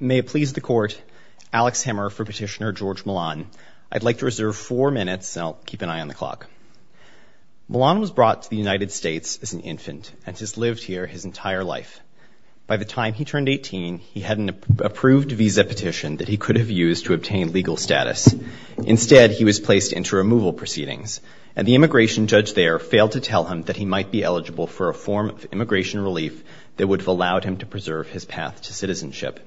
May it please the Court, Alex Hemmer for Petitioner George Millan. I'd like to reserve four minutes and I'll keep an eye on the clock. Millan was brought to the United States as an infant and has lived here his entire life. By the time he turned 18 he had an approved visa petition that he could have used to obtain legal status. Instead he was placed into removal proceedings and the immigration judge there failed to tell him that he might be eligible for a form of immigration relief that would have allowed him to preserve his path to citizenship.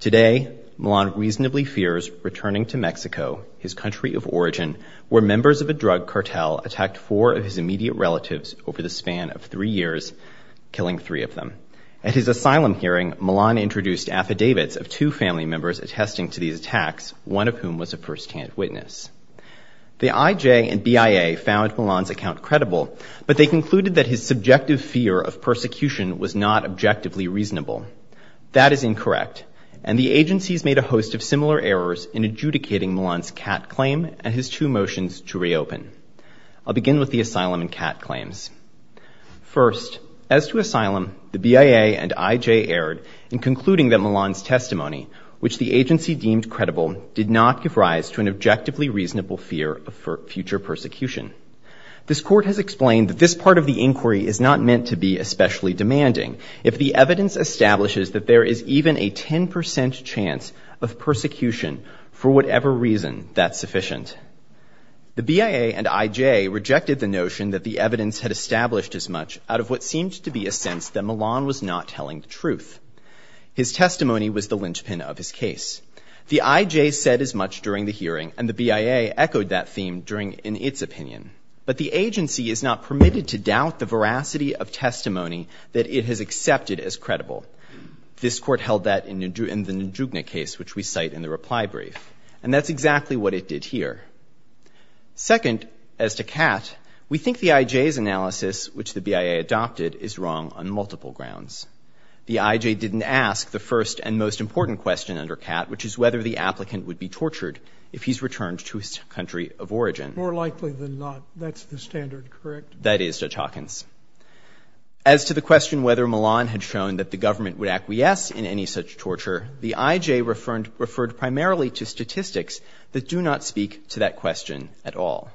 Today Millan reasonably fears returning to Mexico, his country of origin, where members of a drug cartel attacked four of his immediate relatives over the span of three years, killing three of them. At his asylum hearing, Millan introduced affidavits of two family members attesting to these attacks, one of whom was a firsthand witness. The IJ and BIA found Millan's account credible but they concluded that his subjective fear of persecution was not objectively reasonable. That is incorrect and the Millan's cat claim and his two motions to reopen. I'll begin with the asylum and cat claims. First, as to asylum, the BIA and IJ erred in concluding that Millan's testimony, which the agency deemed credible, did not give rise to an objectively reasonable fear of future persecution. This court has explained that this part of the inquiry is not meant to be especially demanding if the evidence establishes that there is even a 10% chance of persecution for whatever reason that's sufficient. The BIA and IJ rejected the notion that the evidence had established as much out of what seemed to be a sense that Millan was not telling the truth. His testimony was the linchpin of his case. The IJ said as much during the hearing and the BIA echoed that theme during in its opinion but the agency is not permitted to doubt the veracity of testimony that it has accepted as credible. This court held that in the Njugna case which we cite in the reply brief and that's exactly what it did here. Second, as to cat, we think the IJ's analysis which the BIA adopted is wrong on multiple grounds. The IJ didn't ask the first and most important question under cat which is whether the applicant would be tortured if he's returned to his country of origin. More likely than not that's the standard, correct? That is, Judge Hawkins. As to the question whether Millan had shown that the government would acquiesce in any such torture, the IJ referred primarily to statistics that do not speak to that question at all.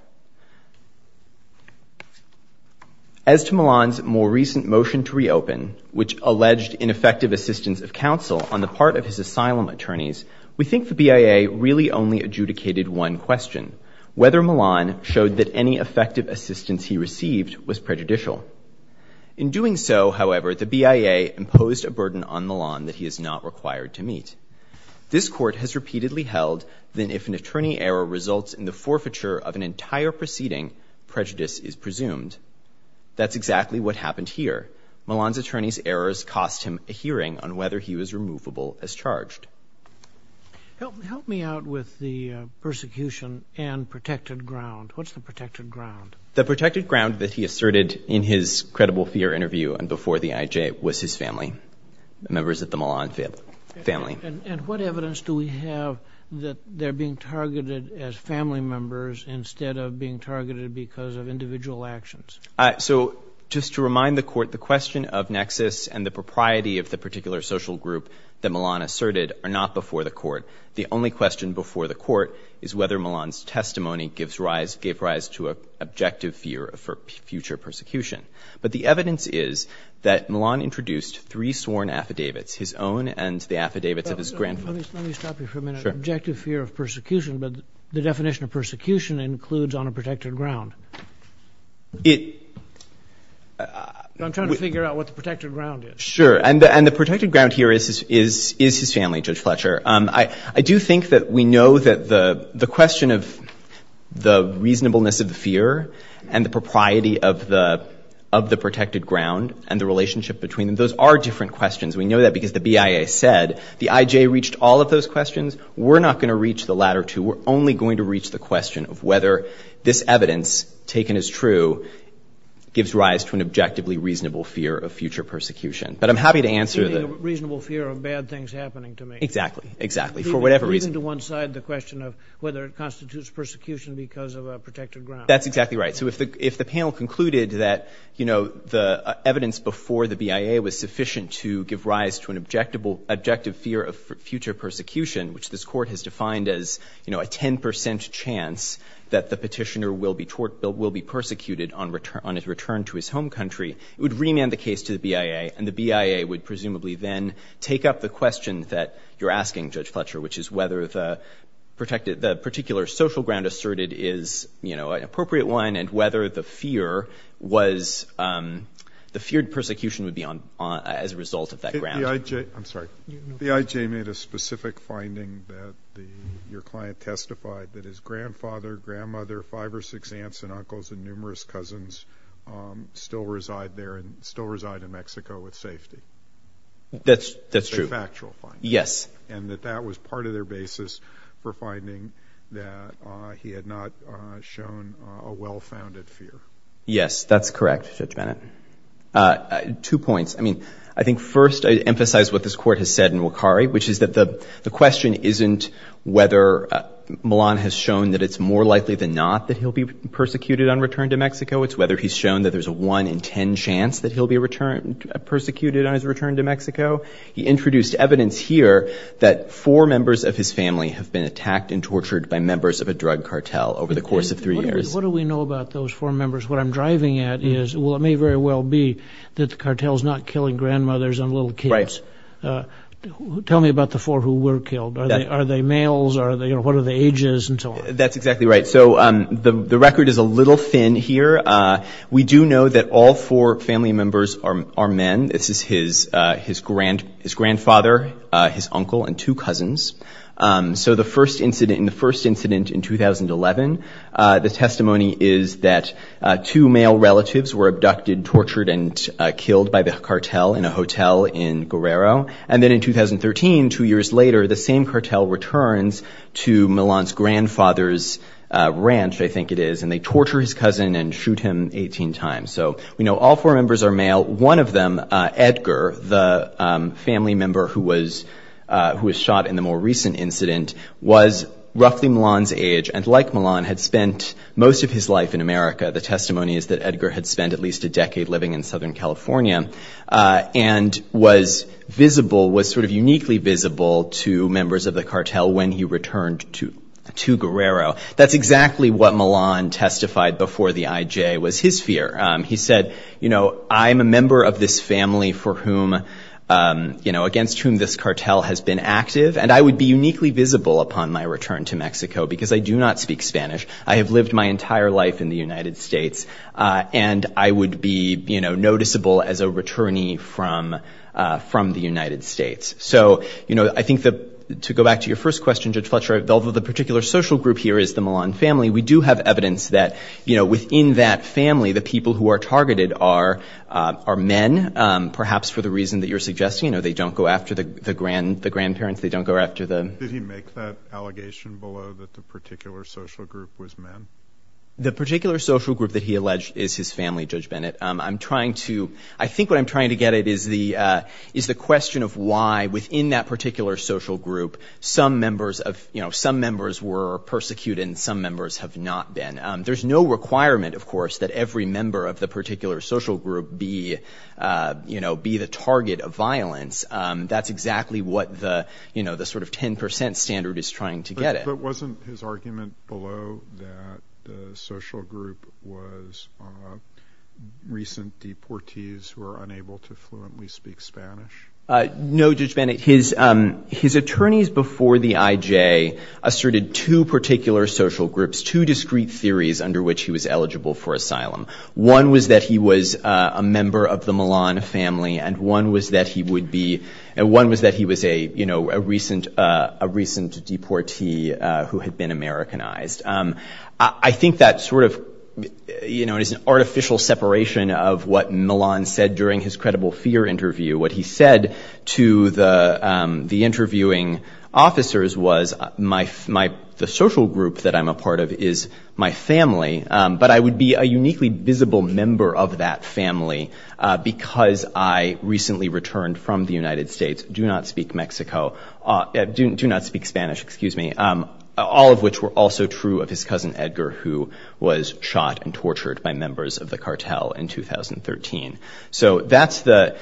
As to Millan's more recent motion to reopen which alleged ineffective assistance of counsel on the part of his asylum attorneys, we think the BIA really only adjudicated one question, whether Millan showed that any effective assistance he received was on the lawn that he is not required to meet. This court has repeatedly held that if an attorney error results in the forfeiture of an entire proceeding, prejudice is presumed. That's exactly what happened here. Millan's attorney's errors cost him a hearing on whether he was removable as charged. Help me out with the persecution and protected ground. What's the protected ground? The protected ground that he asserted in his credible fear interview and before the IJ was his family, members of the Millan family. And what evidence do we have that they're being targeted as family members instead of being targeted because of individual actions? So just to remind the court, the question of nexus and the propriety of the particular social group that Millan asserted are not before the court. The only question before the court is whether Millan's testimony gave rise to an objective fear for future persecution. But the evidence is that Millan introduced three sworn affidavits, his own and the affidavits of his grandfather. Let me stop you for a minute. Objective fear of persecution, but the definition of persecution includes on a protected ground. I'm trying to figure out what the protected ground is. Sure. And the protected ground here is his family, Judge Fletcher. I do think that we know that the question of the reasonableness of the fear and the propriety of the protected ground and the relationship between them, those are different questions. We know that because the BIA said the IJ reached all of those questions. We're not going to reach the latter two. We're only going to reach the question of whether this evidence, taken as true, gives rise to an objectively reasonable fear of future persecution. But I'm happy to answer the... A reasonable fear of bad things happening to me. Exactly. Exactly. For whatever reason. Even to one side, the question of whether it constitutes persecution because of a protected ground. That's exactly right. So if the panel concluded that, you know, the evidence before the BIA was sufficient to give rise to an objective fear of future persecution, which this Court has defined as, you know, a 10 percent chance that the Petitioner will be persecuted on his return to his home country, it would remand the case to the BIA, and the BIA would presumably then take up the question that you're asking, Judge Fletcher, which is whether the particular social ground asserted is, you know, an appropriate one, and whether the fear was...the feared persecution would be as a result of that ground. The IJ...I'm sorry. The IJ made a specific finding that your client testified that his grandfather, grandmother, five or six aunts and uncles, and numerous cousins still reside there and still reside in Mexico with safety. That's true. It's a factual finding. Yes. And that that was part of their basis for finding that he had not shown a well-founded fear. Yes, that's correct, Judge Bennett. Two points. I mean, I think first I emphasize what this Court has said in Wakari, which is that the question isn't whether Milan has shown that it's more likely than not that he'll be persecuted on return to Mexico. It's whether he's shown that there's a 1 in 10 chance that he'll be returned... persecuted on his return to Mexico. He introduced evidence here that four members of his family have been attacked and tortured by members of a drug cartel over the course of three years. What do we know about those four members? What I'm driving at is, well, it may very well be that the cartel's not killing grandmothers and little kids. Right. Tell me about the four who were killed. Are they males? Are they...you know, what are the ages and so on? That's exactly right. So the record is a little thin here. We do know that all four family members are men. This is his grandfather, his uncle, and two cousins. So the first incident in 2011, the testimony is that two male relatives were abducted, tortured, and killed by the cartel in a hotel in Guerrero. And then in 2013, two years later, the same cartel returns to Milan's grandfather's ranch, I think it is, and they torture his cousin and shoot him 18 times. So we know all four members are male. One of them, Edgar, the family member who was shot in the more recent incident, was roughly Milan's age and, like Milan, had spent most of his life in America. The testimony is that Edgar had spent at least a decade living in Southern California and was visible, was sort of uniquely visible to members of the cartel when he returned to Guerrero. That's exactly what Milan testified before the IJ was his fear. He said, you know, I'm a member of this family for whom, you know, against whom this cartel has been active, and I would be uniquely visible upon my return to Mexico because I do not speak Spanish. I have lived my entire life in the United States. And I would be, you know, noticeable as a returnee from the United States. So, you know, I think that, to go back to your first question, Judge Fletcher, although the particular social group here is the Milan family, we do have evidence that, you know, within that family, the people who are targeted are men, perhaps for the reason that you're suggesting. You know, they don't go after the grandparents. They don't go after the... Did he make that allegation below that the particular social group was men? The particular social group that he alleged is his family, Judge Bennett. I'm trying to, I think what I'm trying to get at is the question of why, within that particular social group, some members of, you know, some members were persecuted and some members have not been. There's no requirement, of course, that every member of the particular social group be, you know, be the target of violence. That's exactly what the, you know, the sort of 10% standard is trying to get at. But wasn't his argument below that the social group was recent deportees who are unable to fluently speak Spanish? No, Judge Bennett. His attorneys before the IJ asserted two particular social groups, two discrete theories under which he was eligible for asylum. One was that he was a member of the Millan family and one was that he would be, and one was that he was a, you know, a recent deportee who had been Americanized. I think that sort of, you know, it is an artificial separation of what Millan said during his interviewing officers was the social group that I'm a part of is my family, but I would be a uniquely visible member of that family because I recently returned from the United States, do not speak Mexico, do not speak Spanish, excuse me, all of which were also true of his cousin, Edgar, who was shot and tortured by members of the cartel in 2013. So that's the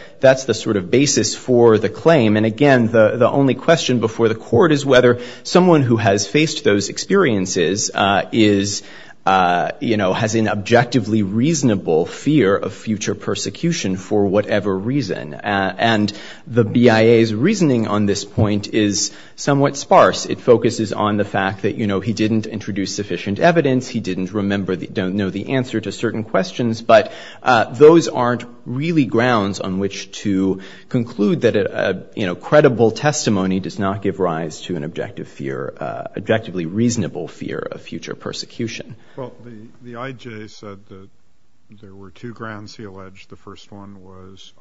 sort of basis for the claim. And again, the only question before the court is whether someone who has faced those experiences is, you know, has an objectively reasonable fear of future persecution for whatever reason. And the BIA's reasoning on this point is somewhat sparse. It focuses on the fact that, you know, he didn't introduce sufficient evidence, he didn't remember, don't know the answer to certain questions, but those aren't really grounds on which to conclude that, you know, credible testimony does not give rise to an objective fear, objectively reasonable fear of future persecution. Well, the IJ said that there were two grounds he alleged. The first one was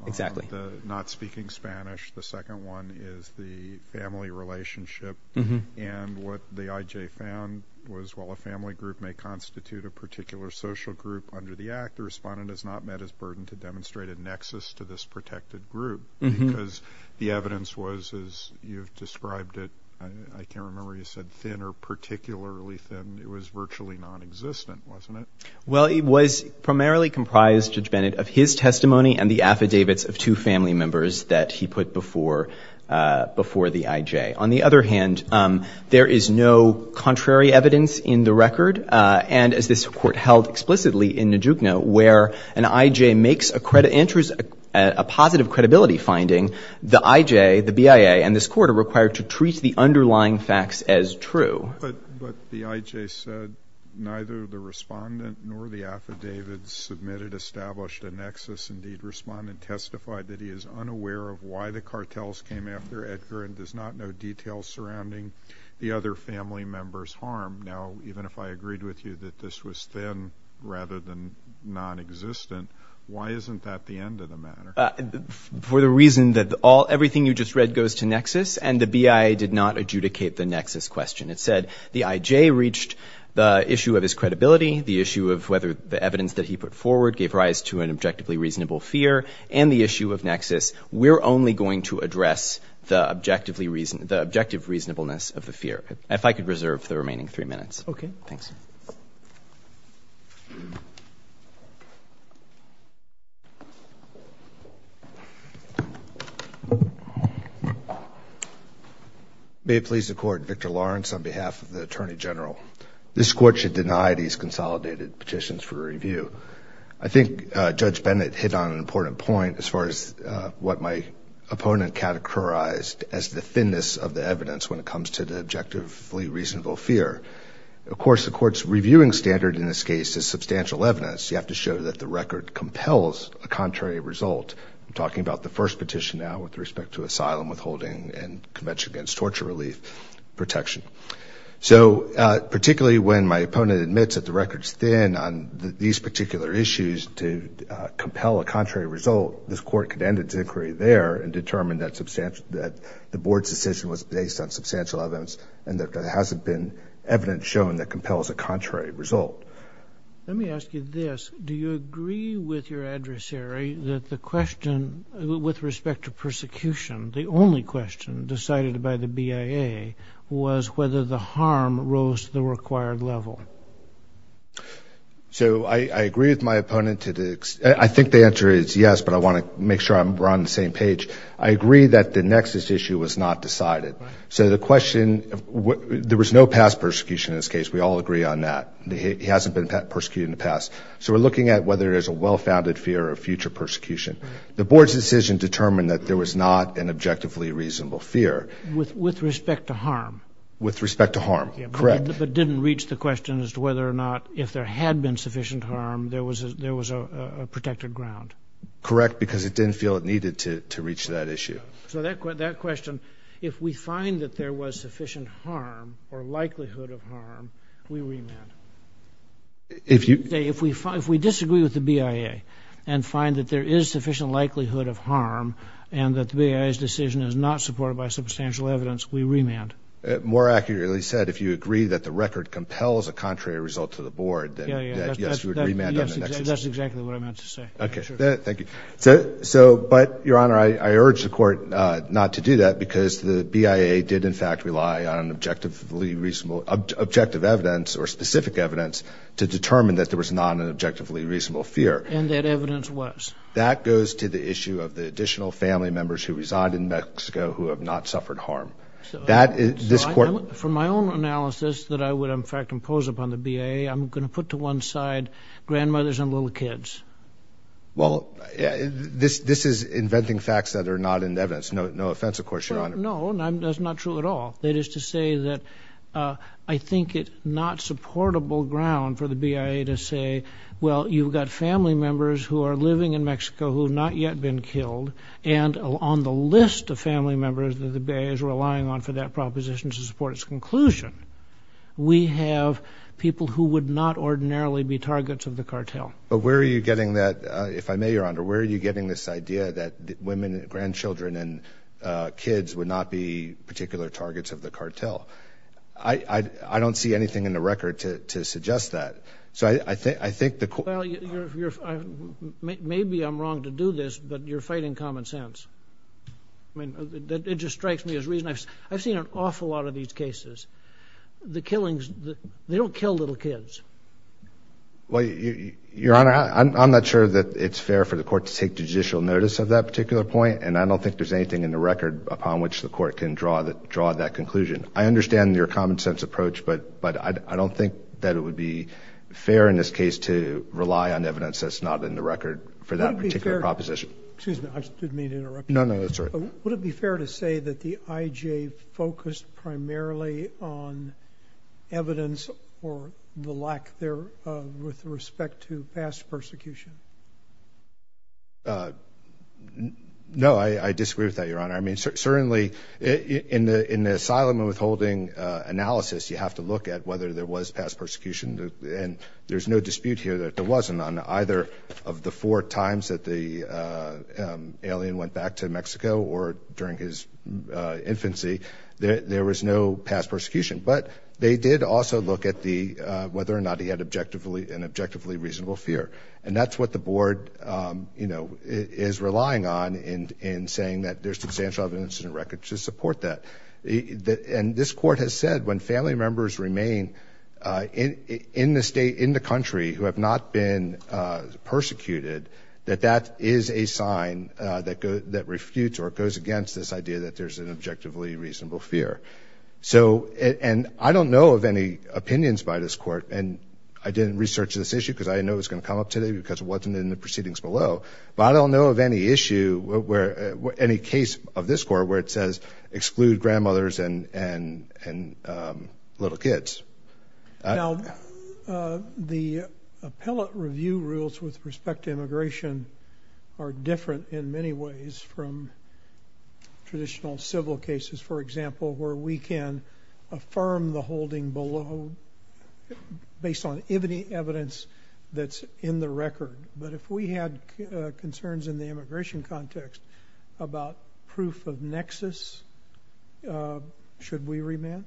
not speaking Spanish. The second one is the family relationship. And what the IJ found was while a family group may constitute a particular social group under the act, the respondent has not met his burden to demonstrate a nexus to this protected group because the evidence was, as you've described it, I can't remember if you said thin or particularly thin, it was virtually non-existent, wasn't it? Well, it was primarily comprised, Judge Bennett, of his testimony and the affidavits of two family members that he put before the IJ. On the other hand, there is no contrary evidence in the record. And as this court held explicitly in Najukno, where an IJ makes a positive credibility finding, the IJ, the BIA, and this court are required to treat the underlying facts as true. But the IJ said neither the respondent nor the affidavit submitted established a nexus. Indeed, respondent testified that he is unaware of why the cartels came after Edgar and does not know details surrounding the other family member's harm. Now, even if I agreed with you that this was thin rather than non-existent, why isn't that the end of the matter? For the reason that everything you just read goes to nexus and the BIA did not adjudicate the nexus question. It said the IJ reached the issue of his credibility, the issue of whether the evidence that he put forward gave rise to an objectively reasonable fear, and the issue of nexus. We're only going to address the objective reasonableness of the fear. If I could reserve the remaining three minutes. Okay. Thanks. May it please the Court, Victor Lawrence on behalf of the Attorney General. This Court should deny these consolidated petitions for review. I think Judge Bennett hit on an important point as far as what my opponent categorized as the thinness of the evidence when it comes to the objectively reasonable fear. Of course, the Court's reviewing standard in this case is substantial evidence. You have to show that the record compels a contrary result. I'm talking about the first petition now with respect to asylum withholding and Convention Against Torture Relief protection. So, particularly when my opponent admits that the record's thin on these particular issues to compel a contrary result, this Court could end its inquiry there and determine that the Board's decision was based on substantial evidence and that there hasn't been evidence shown that compels a contrary result. Let me ask you this. Do you agree with your adversary that the question with respect to persecution, the only question decided by the BIA, was whether the harm rose to the required level? So I agree with my opponent. I think the answer is yes, but I want to make sure we're on the same page. I agree that the nexus issue was not decided. So the question, there was no past persecution in this case. We all agree on that. He hasn't been persecuted in the past. So we're looking at whether there's a well-founded fear of future persecution. The Board's decision determined that there was not an objectively reasonable fear. With respect to harm? With respect to harm. Correct. But didn't reach the question as to whether or not, if there had been sufficient harm, there was a protected ground? Correct, because it didn't feel it needed to reach that issue. So that question, if we find that there was sufficient harm, or likelihood of harm, we remand. If we disagree with the BIA, and find that there is sufficient likelihood of harm, and that the BIA's decision is not supported by substantial evidence, we remand. More accurately said, if you agree that the record compels a contrary result to the Board, then yes, we would remand on the nexus issue. That's exactly what I meant to say. Thank you. So, but, Your Honor, I urge the Court not to do that, because the BIA did, in fact, rely on objective evidence, or specific evidence, to determine that there was not an objectively reasonable fear. And that evidence was? That goes to the issue of the additional family members who reside in Mexico who have not suffered harm. So, from my own analysis that I would, in fact, impose upon the BIA, I'm going to put to one side grandmothers and little kids. Well, this is inventing facts that are not in evidence. No offense, of course, Your Honor. No, that's not true at all. That is to say that I think it's not supportable ground for the BIA to say, well, you've got family members who are living in Mexico who have not yet been killed, and on the list of family members that the BIA is relying on for that proposition to support its conclusion, we have people who would not ordinarily be targets of the cartel. But where are you getting that, if I may, Your Honor, where are you getting this idea that women, grandchildren, and kids would not be particular targets of the cartel? I don't see anything in the record to suggest that. So, I think, I think the... Well, maybe I'm wrong to do this, but you're fighting common sense. I mean, it just strikes me as reason. I've seen an awful lot of these cases. The killings, they don't kill little kids. Well, Your Honor, I'm not sure that it's fair for the court to take judicial notice of that particular point, and I don't think there's anything in the record upon which the court can draw that conclusion. I understand your common sense approach, but I don't think that it would be fair in this case to rely on evidence that's not in the record for that particular proposition. Would it be fair, excuse me, I didn't mean to interrupt you. No, no, that's all right. Would it be fair to say that the IJ focused primarily on evidence or the lack thereof with respect to past persecution? No, I disagree with that, Your Honor. I mean, certainly, in the asylum and withholding analysis, you have to look at whether there was past persecution, and there's no dispute here that there wasn't on either of the four or during his infancy, there was no past persecution. But they did also look at whether or not he had an objectively reasonable fear. And that's what the board is relying on in saying that there's substantial evidence in the record to support that. And this court has said when family members remain in the state, in the country, who have not been persecuted, that that is a sign that refutes or goes against this idea that there's an objectively reasonable fear. So, and I don't know of any opinions by this court. And I didn't research this issue because I didn't know it was going to come up today because it wasn't in the proceedings below. But I don't know of any issue where, any case of this court where it says exclude grandmothers and little kids. Now, the appellate review rules with respect to immigration are different in many ways from traditional civil cases, for example, where we can affirm the holding below based on evidence that's in the record. But if we had concerns in the immigration context about proof of nexus, should we remand?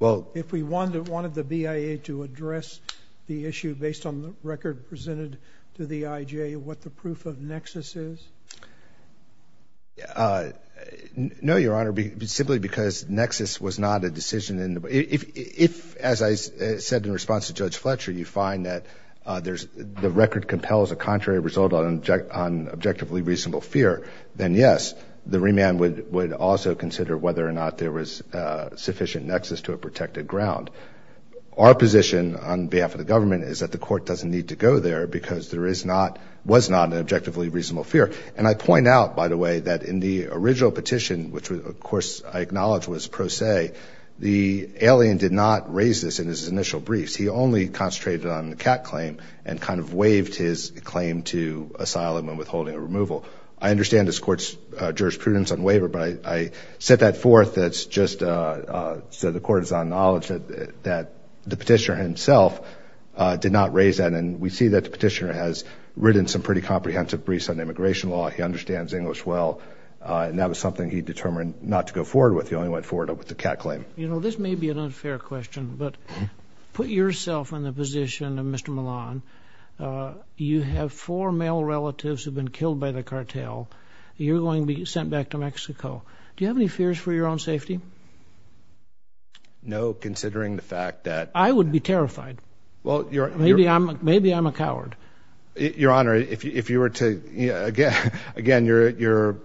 If we wanted the BIA to address the issue based on the record presented to the IJ, what the proof of nexus is? No, Your Honor. Simply because nexus was not a decision in the, if, as I said in response to Judge Fletcher, you find that the record compels a contrary result on objectively reasonable fear, then yes, the remand would also consider whether or not there was sufficient nexus to a protected ground. Our position on behalf of the government is that the court doesn't need to go there because there is not, was not an objectively reasonable fear. And I point out, by the way, that in the original petition, which of course I acknowledge was pro se, the alien did not raise this in his initial briefs. He only concentrated on the cat claim and kind of waived his claim to asylum and withholding a removal. I understand this court's jurisprudence on waiver, but I set that forth that's just so the court is on knowledge that the petitioner himself did not raise that. And we see that the petitioner has written some pretty comprehensive briefs on immigration law. He understands English well. And that was something he determined not to go forward with. He only went forward with the cat claim. You know, this may be an unfair question, but put yourself in the position of Mr. Milan. You have four male relatives who have been killed by the cartel. You're going to be sent back to Mexico. Do you have any fears for your own safety? No, considering the fact that... I would be terrified. Maybe I'm a coward. Your Honor, if you were to... Again, you're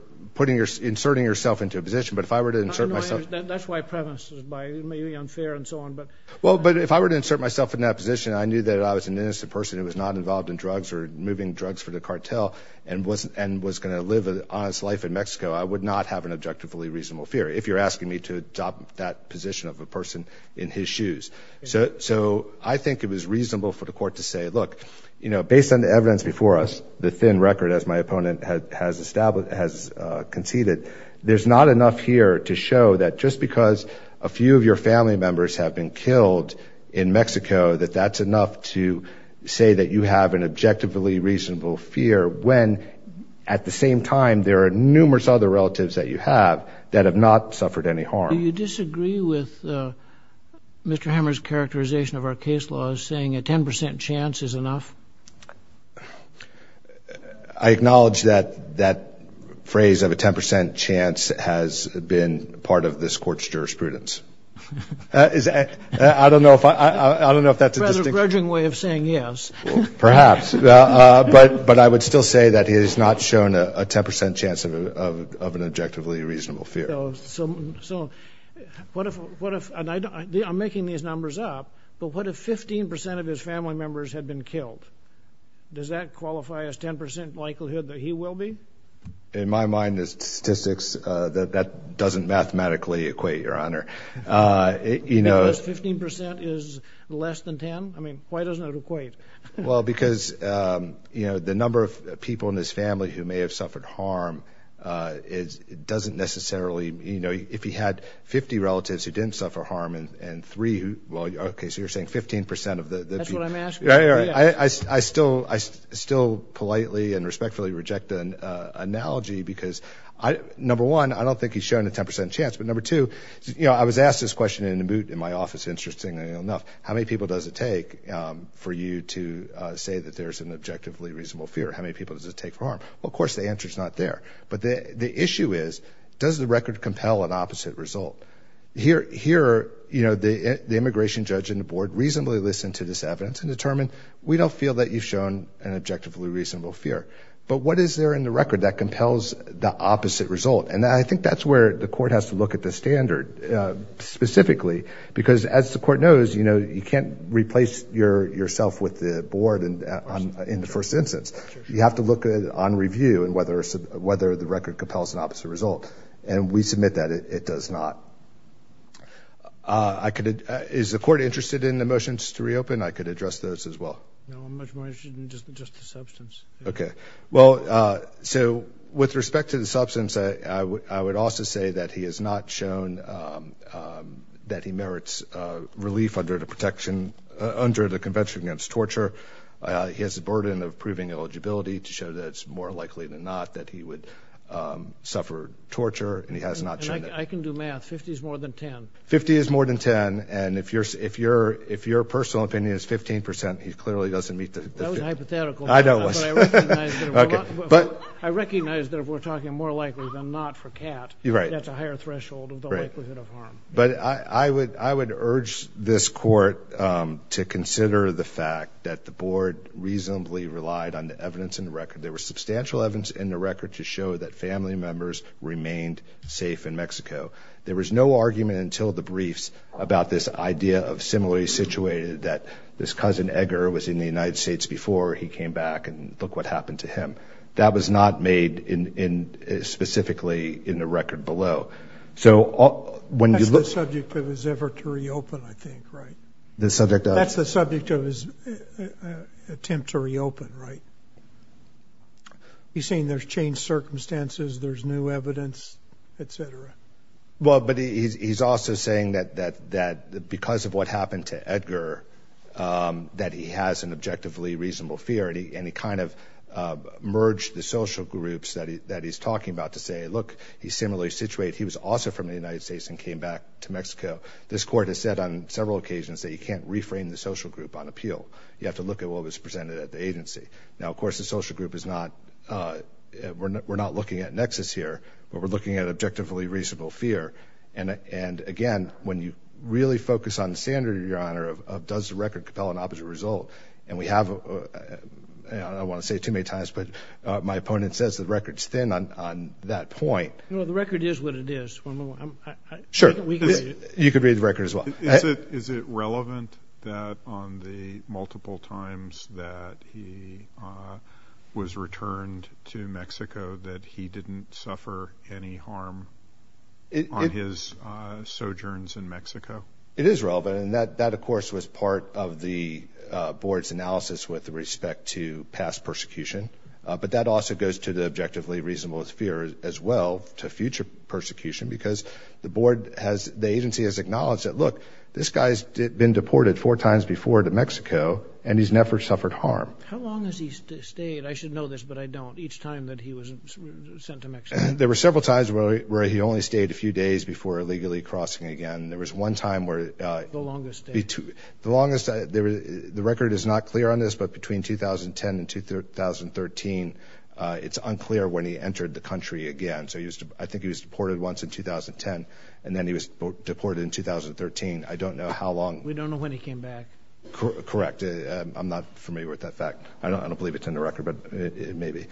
inserting yourself into a position, but if I were to insert myself... That's why I preface this by it may be unfair and so on, but... Well, but if I were to insert myself in that position and I knew that I was an innocent person who was not involved in drugs or moving drugs for the cartel and was going to live an honest life in Mexico, I would not have an objectively reasonable fear if you're asking me to adopt that position of a person in his shoes. So I think it was reasonable for the court to say, look, you know, based on the evidence before us, the thin record as my opponent has conceded, there's not enough here to show that just because a few of your family members have been killed in Mexico, that that's enough to say that you have an objectively reasonable fear when at the same time there are numerous other relatives that you have that have not suffered any harm. Do you disagree with Mr. Hammer's characterization of our case law as saying a 10% chance is enough? I acknowledge that that phrase of a 10% chance has been part of this court's jurisprudence. I don't know if that's a distinct... Rather grudging way of saying yes. Perhaps. But I would still say that he has not shown a 10% chance of an objectively reasonable fear. So what if, and I'm making these numbers up, but what if 15% of his family members had been killed? Does that qualify as 10% likelihood that he will be? In my mind, the statistics, that doesn't mathematically equate, Your Honor. Because 15% is less than 10? I mean, why doesn't it equate? Well, because the number of people in his family who may have suffered harm doesn't necessarily... If he had 50 relatives who didn't suffer harm and three who... Well, okay, so you're saying 15% of the... That's what I'm asking. I still politely and respectfully reject an analogy because number one, I don't think he's shown a 10% chance, but number two, I was asked this question in the moot in my office, interestingly enough, how many people does it take for you to say that there's an objectively reasonable fear? How many people does it take for harm? Well, of course, the answer's not there. But the issue is, does the record compel an opposite result? Here, the immigration judge and the board reasonably listened to this evidence and determined, we don't feel that you've shown an objectively reasonable fear. But what is there in the record that compels the opposite result? And I think that's where the court has to look at the standard, specifically, because as the court knows, you can't replace yourself with the board in the first instance. You have to look at it on review and whether the record compels an opposite result. And we submit that it does not. Is the court interested in the motions to reopen? I could address those as well. No, I'm much more interested in just the substance. Okay. Well, so with respect to the substance, I would also say that he has not shown that he merits relief under the Convention Against Torture. He has the burden of proving eligibility to show that it's more likely than not that he would suffer torture. And he has not shown that. I can do math. 50 is more than 10. 50 is more than 10. And if your personal opinion is 15%, he clearly doesn't meet the 50. That was hypothetical. I know it was. But I recognize that if we're talking more likely than not for cat, that's a higher threshold of the likelihood of harm. But I would urge this court to consider the fact that the board reasonably relied on the evidence in the record. There were substantial evidence in the record to show that family members remained safe in Mexico. There was no argument until the briefs about this idea of similarly situated that this cousin Edgar was in the United States before he came back and look what happened to him. That was not made specifically in the record below. That's the subject of his effort to reopen, I think, right? The subject of? That's the subject of his attempt to reopen, right? He's saying there's changed circumstances, there's new evidence, et cetera. Well, but he's also saying that because of what happened to Edgar, that he has an objectively reasonable fear. And he kind of merged the social groups that he's talking about to say, look, he's similarly situated, he was also from the United States and came back to Mexico. This court has said on several occasions that you can't reframe the social group on appeal. You have to look at what was presented at the agency. Now, of course, the social group is not, we're not looking at nexus here, but we're looking at objectively reasonable fear. And again, when you really focus on the standard, Your Honor, of does the record compel an opposite result, and we have, I don't want to say it too many times, but my opponent says the record's thin on that point. Well, the record is what it is. Sure. You could read the record as well. Is it relevant that on the multiple times that he was returned to Mexico that he didn't suffer any harm on his sojourns in Mexico? It is relevant. And that, of course, was part of the board's analysis with respect to past persecution. But that also goes to the objectively reasonable fear as well, to future persecution, because the agency has acknowledged that, look, this guy's been deported four times before to Mexico, and he's never suffered harm. How long has he stayed? I should know this, but I don't. Each time that he was sent to Mexico. There were several times where he only stayed a few days before illegally crossing again. There was one time where... The longest stay. The longest. The record is not clear on this, but between 2010 and 2013, it's unclear when he entered the country again. So I think he was deported once in 2010, and then he was deported in 2013. I don't know how long. We don't know when he came back. Correct. I'm not familiar with that fact. I don't believe it's in the record, but it may be.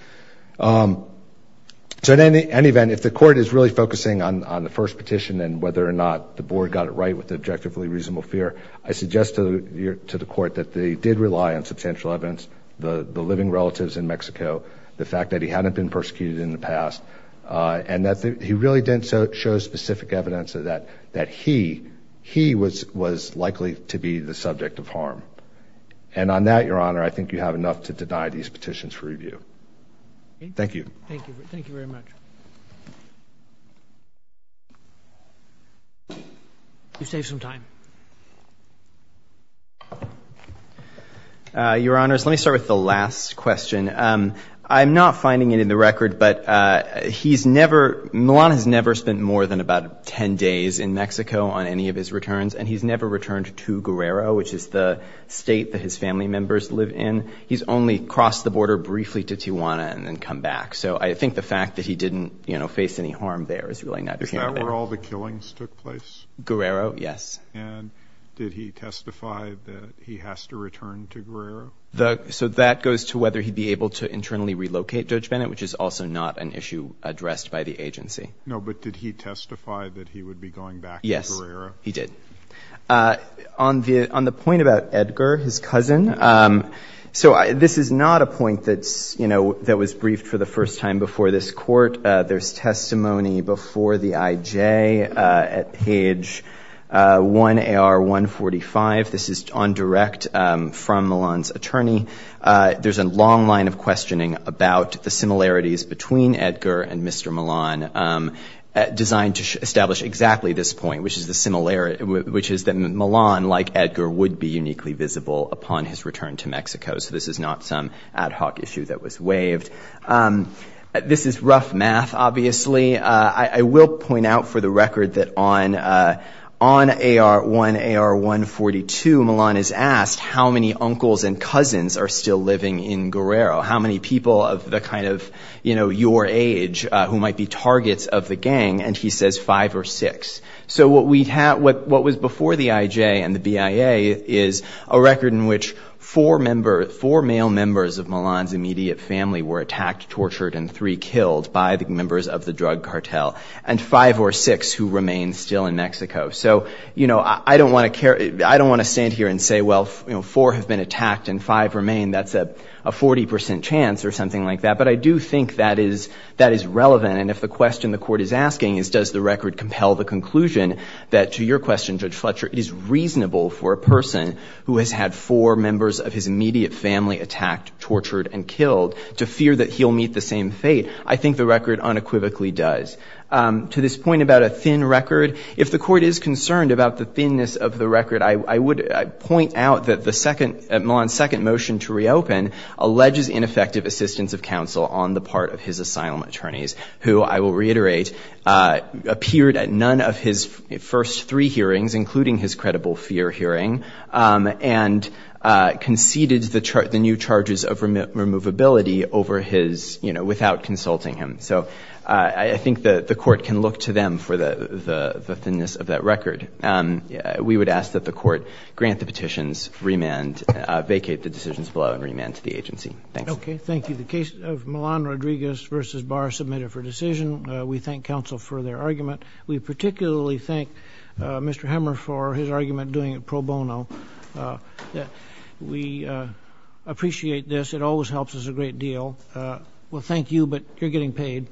So in any event, if the court is really focusing on the first petition and whether or not the board got it right with the objectively reasonable fear, I suggest to the court that they did rely on substantial evidence, the living relatives in Mexico, the fact that he hadn't been persecuted in the past, and that he really didn't show specific evidence that he was likely to be the subject of harm. And on that, Your Honor, I think you have enough to deny these petitions for review. Thank you. Thank you. Thank you very much. You've saved some time. Your Honors, let me start with the last question. I'm not finding it in the record, but he's never, Milan has never spent more than about 10 days in Mexico on any of his returns, and he's never returned to Guerrero, which is the state that his family members live in. He's only crossed the border briefly to Tijuana and then come back. So I think the fact that he didn't, you know, face any harm there is really not a candidate. Is that where all the killings took place? Guerrero, yes. And did he testify that he has to return to Guerrero? So that goes to whether he'd be able to internally relocate Judge Bennett, which is also not an issue addressed by the agency. No, but did he testify that he would be going back to Guerrero? Yes, he did. On the point about Edgar, his cousin, so this is not a point that's, you know, that was briefed for the first time before this court. There's testimony before the IJ at page 1AR145. This is on direct from Milan's attorney. There's a long line of questioning about the similarities between Edgar and Mr. Milan designed to establish exactly this point, which is that Milan, like Edgar, would be uniquely visible upon his return to Mexico. So this is not some ad hoc issue that was waived. This is rough math, obviously. I will point out for the record that on AR1, AR142, Milan is asked how many uncles and cousins are still living in Guerrero, how many people of the kind of, you know, your age who might be targets of the gang, and he says five or six. So what was before the IJ and the BIA is a record in which four male members of Milan's immediate family were attacked, tortured, and three killed by the members of the drug cartel, and five or six who remain still in Mexico. So, you know, I don't want to stand here and say, well, four have been attacked and five remain. That's a 40% chance or something like that, but I do think that is relevant, and if the question the court is asking is, does the record compel the conclusion, that to your question, Judge Fletcher, it is reasonable for a person who has had four members of his immediate family attacked, tortured, and killed to fear that he'll meet the same fate. I think the record unequivocally does. To this point about a thin record, if the court is concerned about the thinness of the record, I would point out that Milan's second motion to reopen alleges ineffective assistance of counsel on the part of his asylum attorneys, who, I will reiterate, appeared at none of his first three hearings, including his credible fear hearing, and conceded the new charges of removability without consulting him. So I think the court can look to them for the thinness of that record. We would ask that the court grant the petitions, vacate the decisions below, and remand to the agency. Okay, thank you. The case of Milan-Rodriguez v. Barr is submitted for decision. We thank counsel for their argument. We particularly thank Mr. Hemmer for his argument doing it pro bono. We appreciate this. It always helps us a great deal. Well, thank you, but you're getting paid.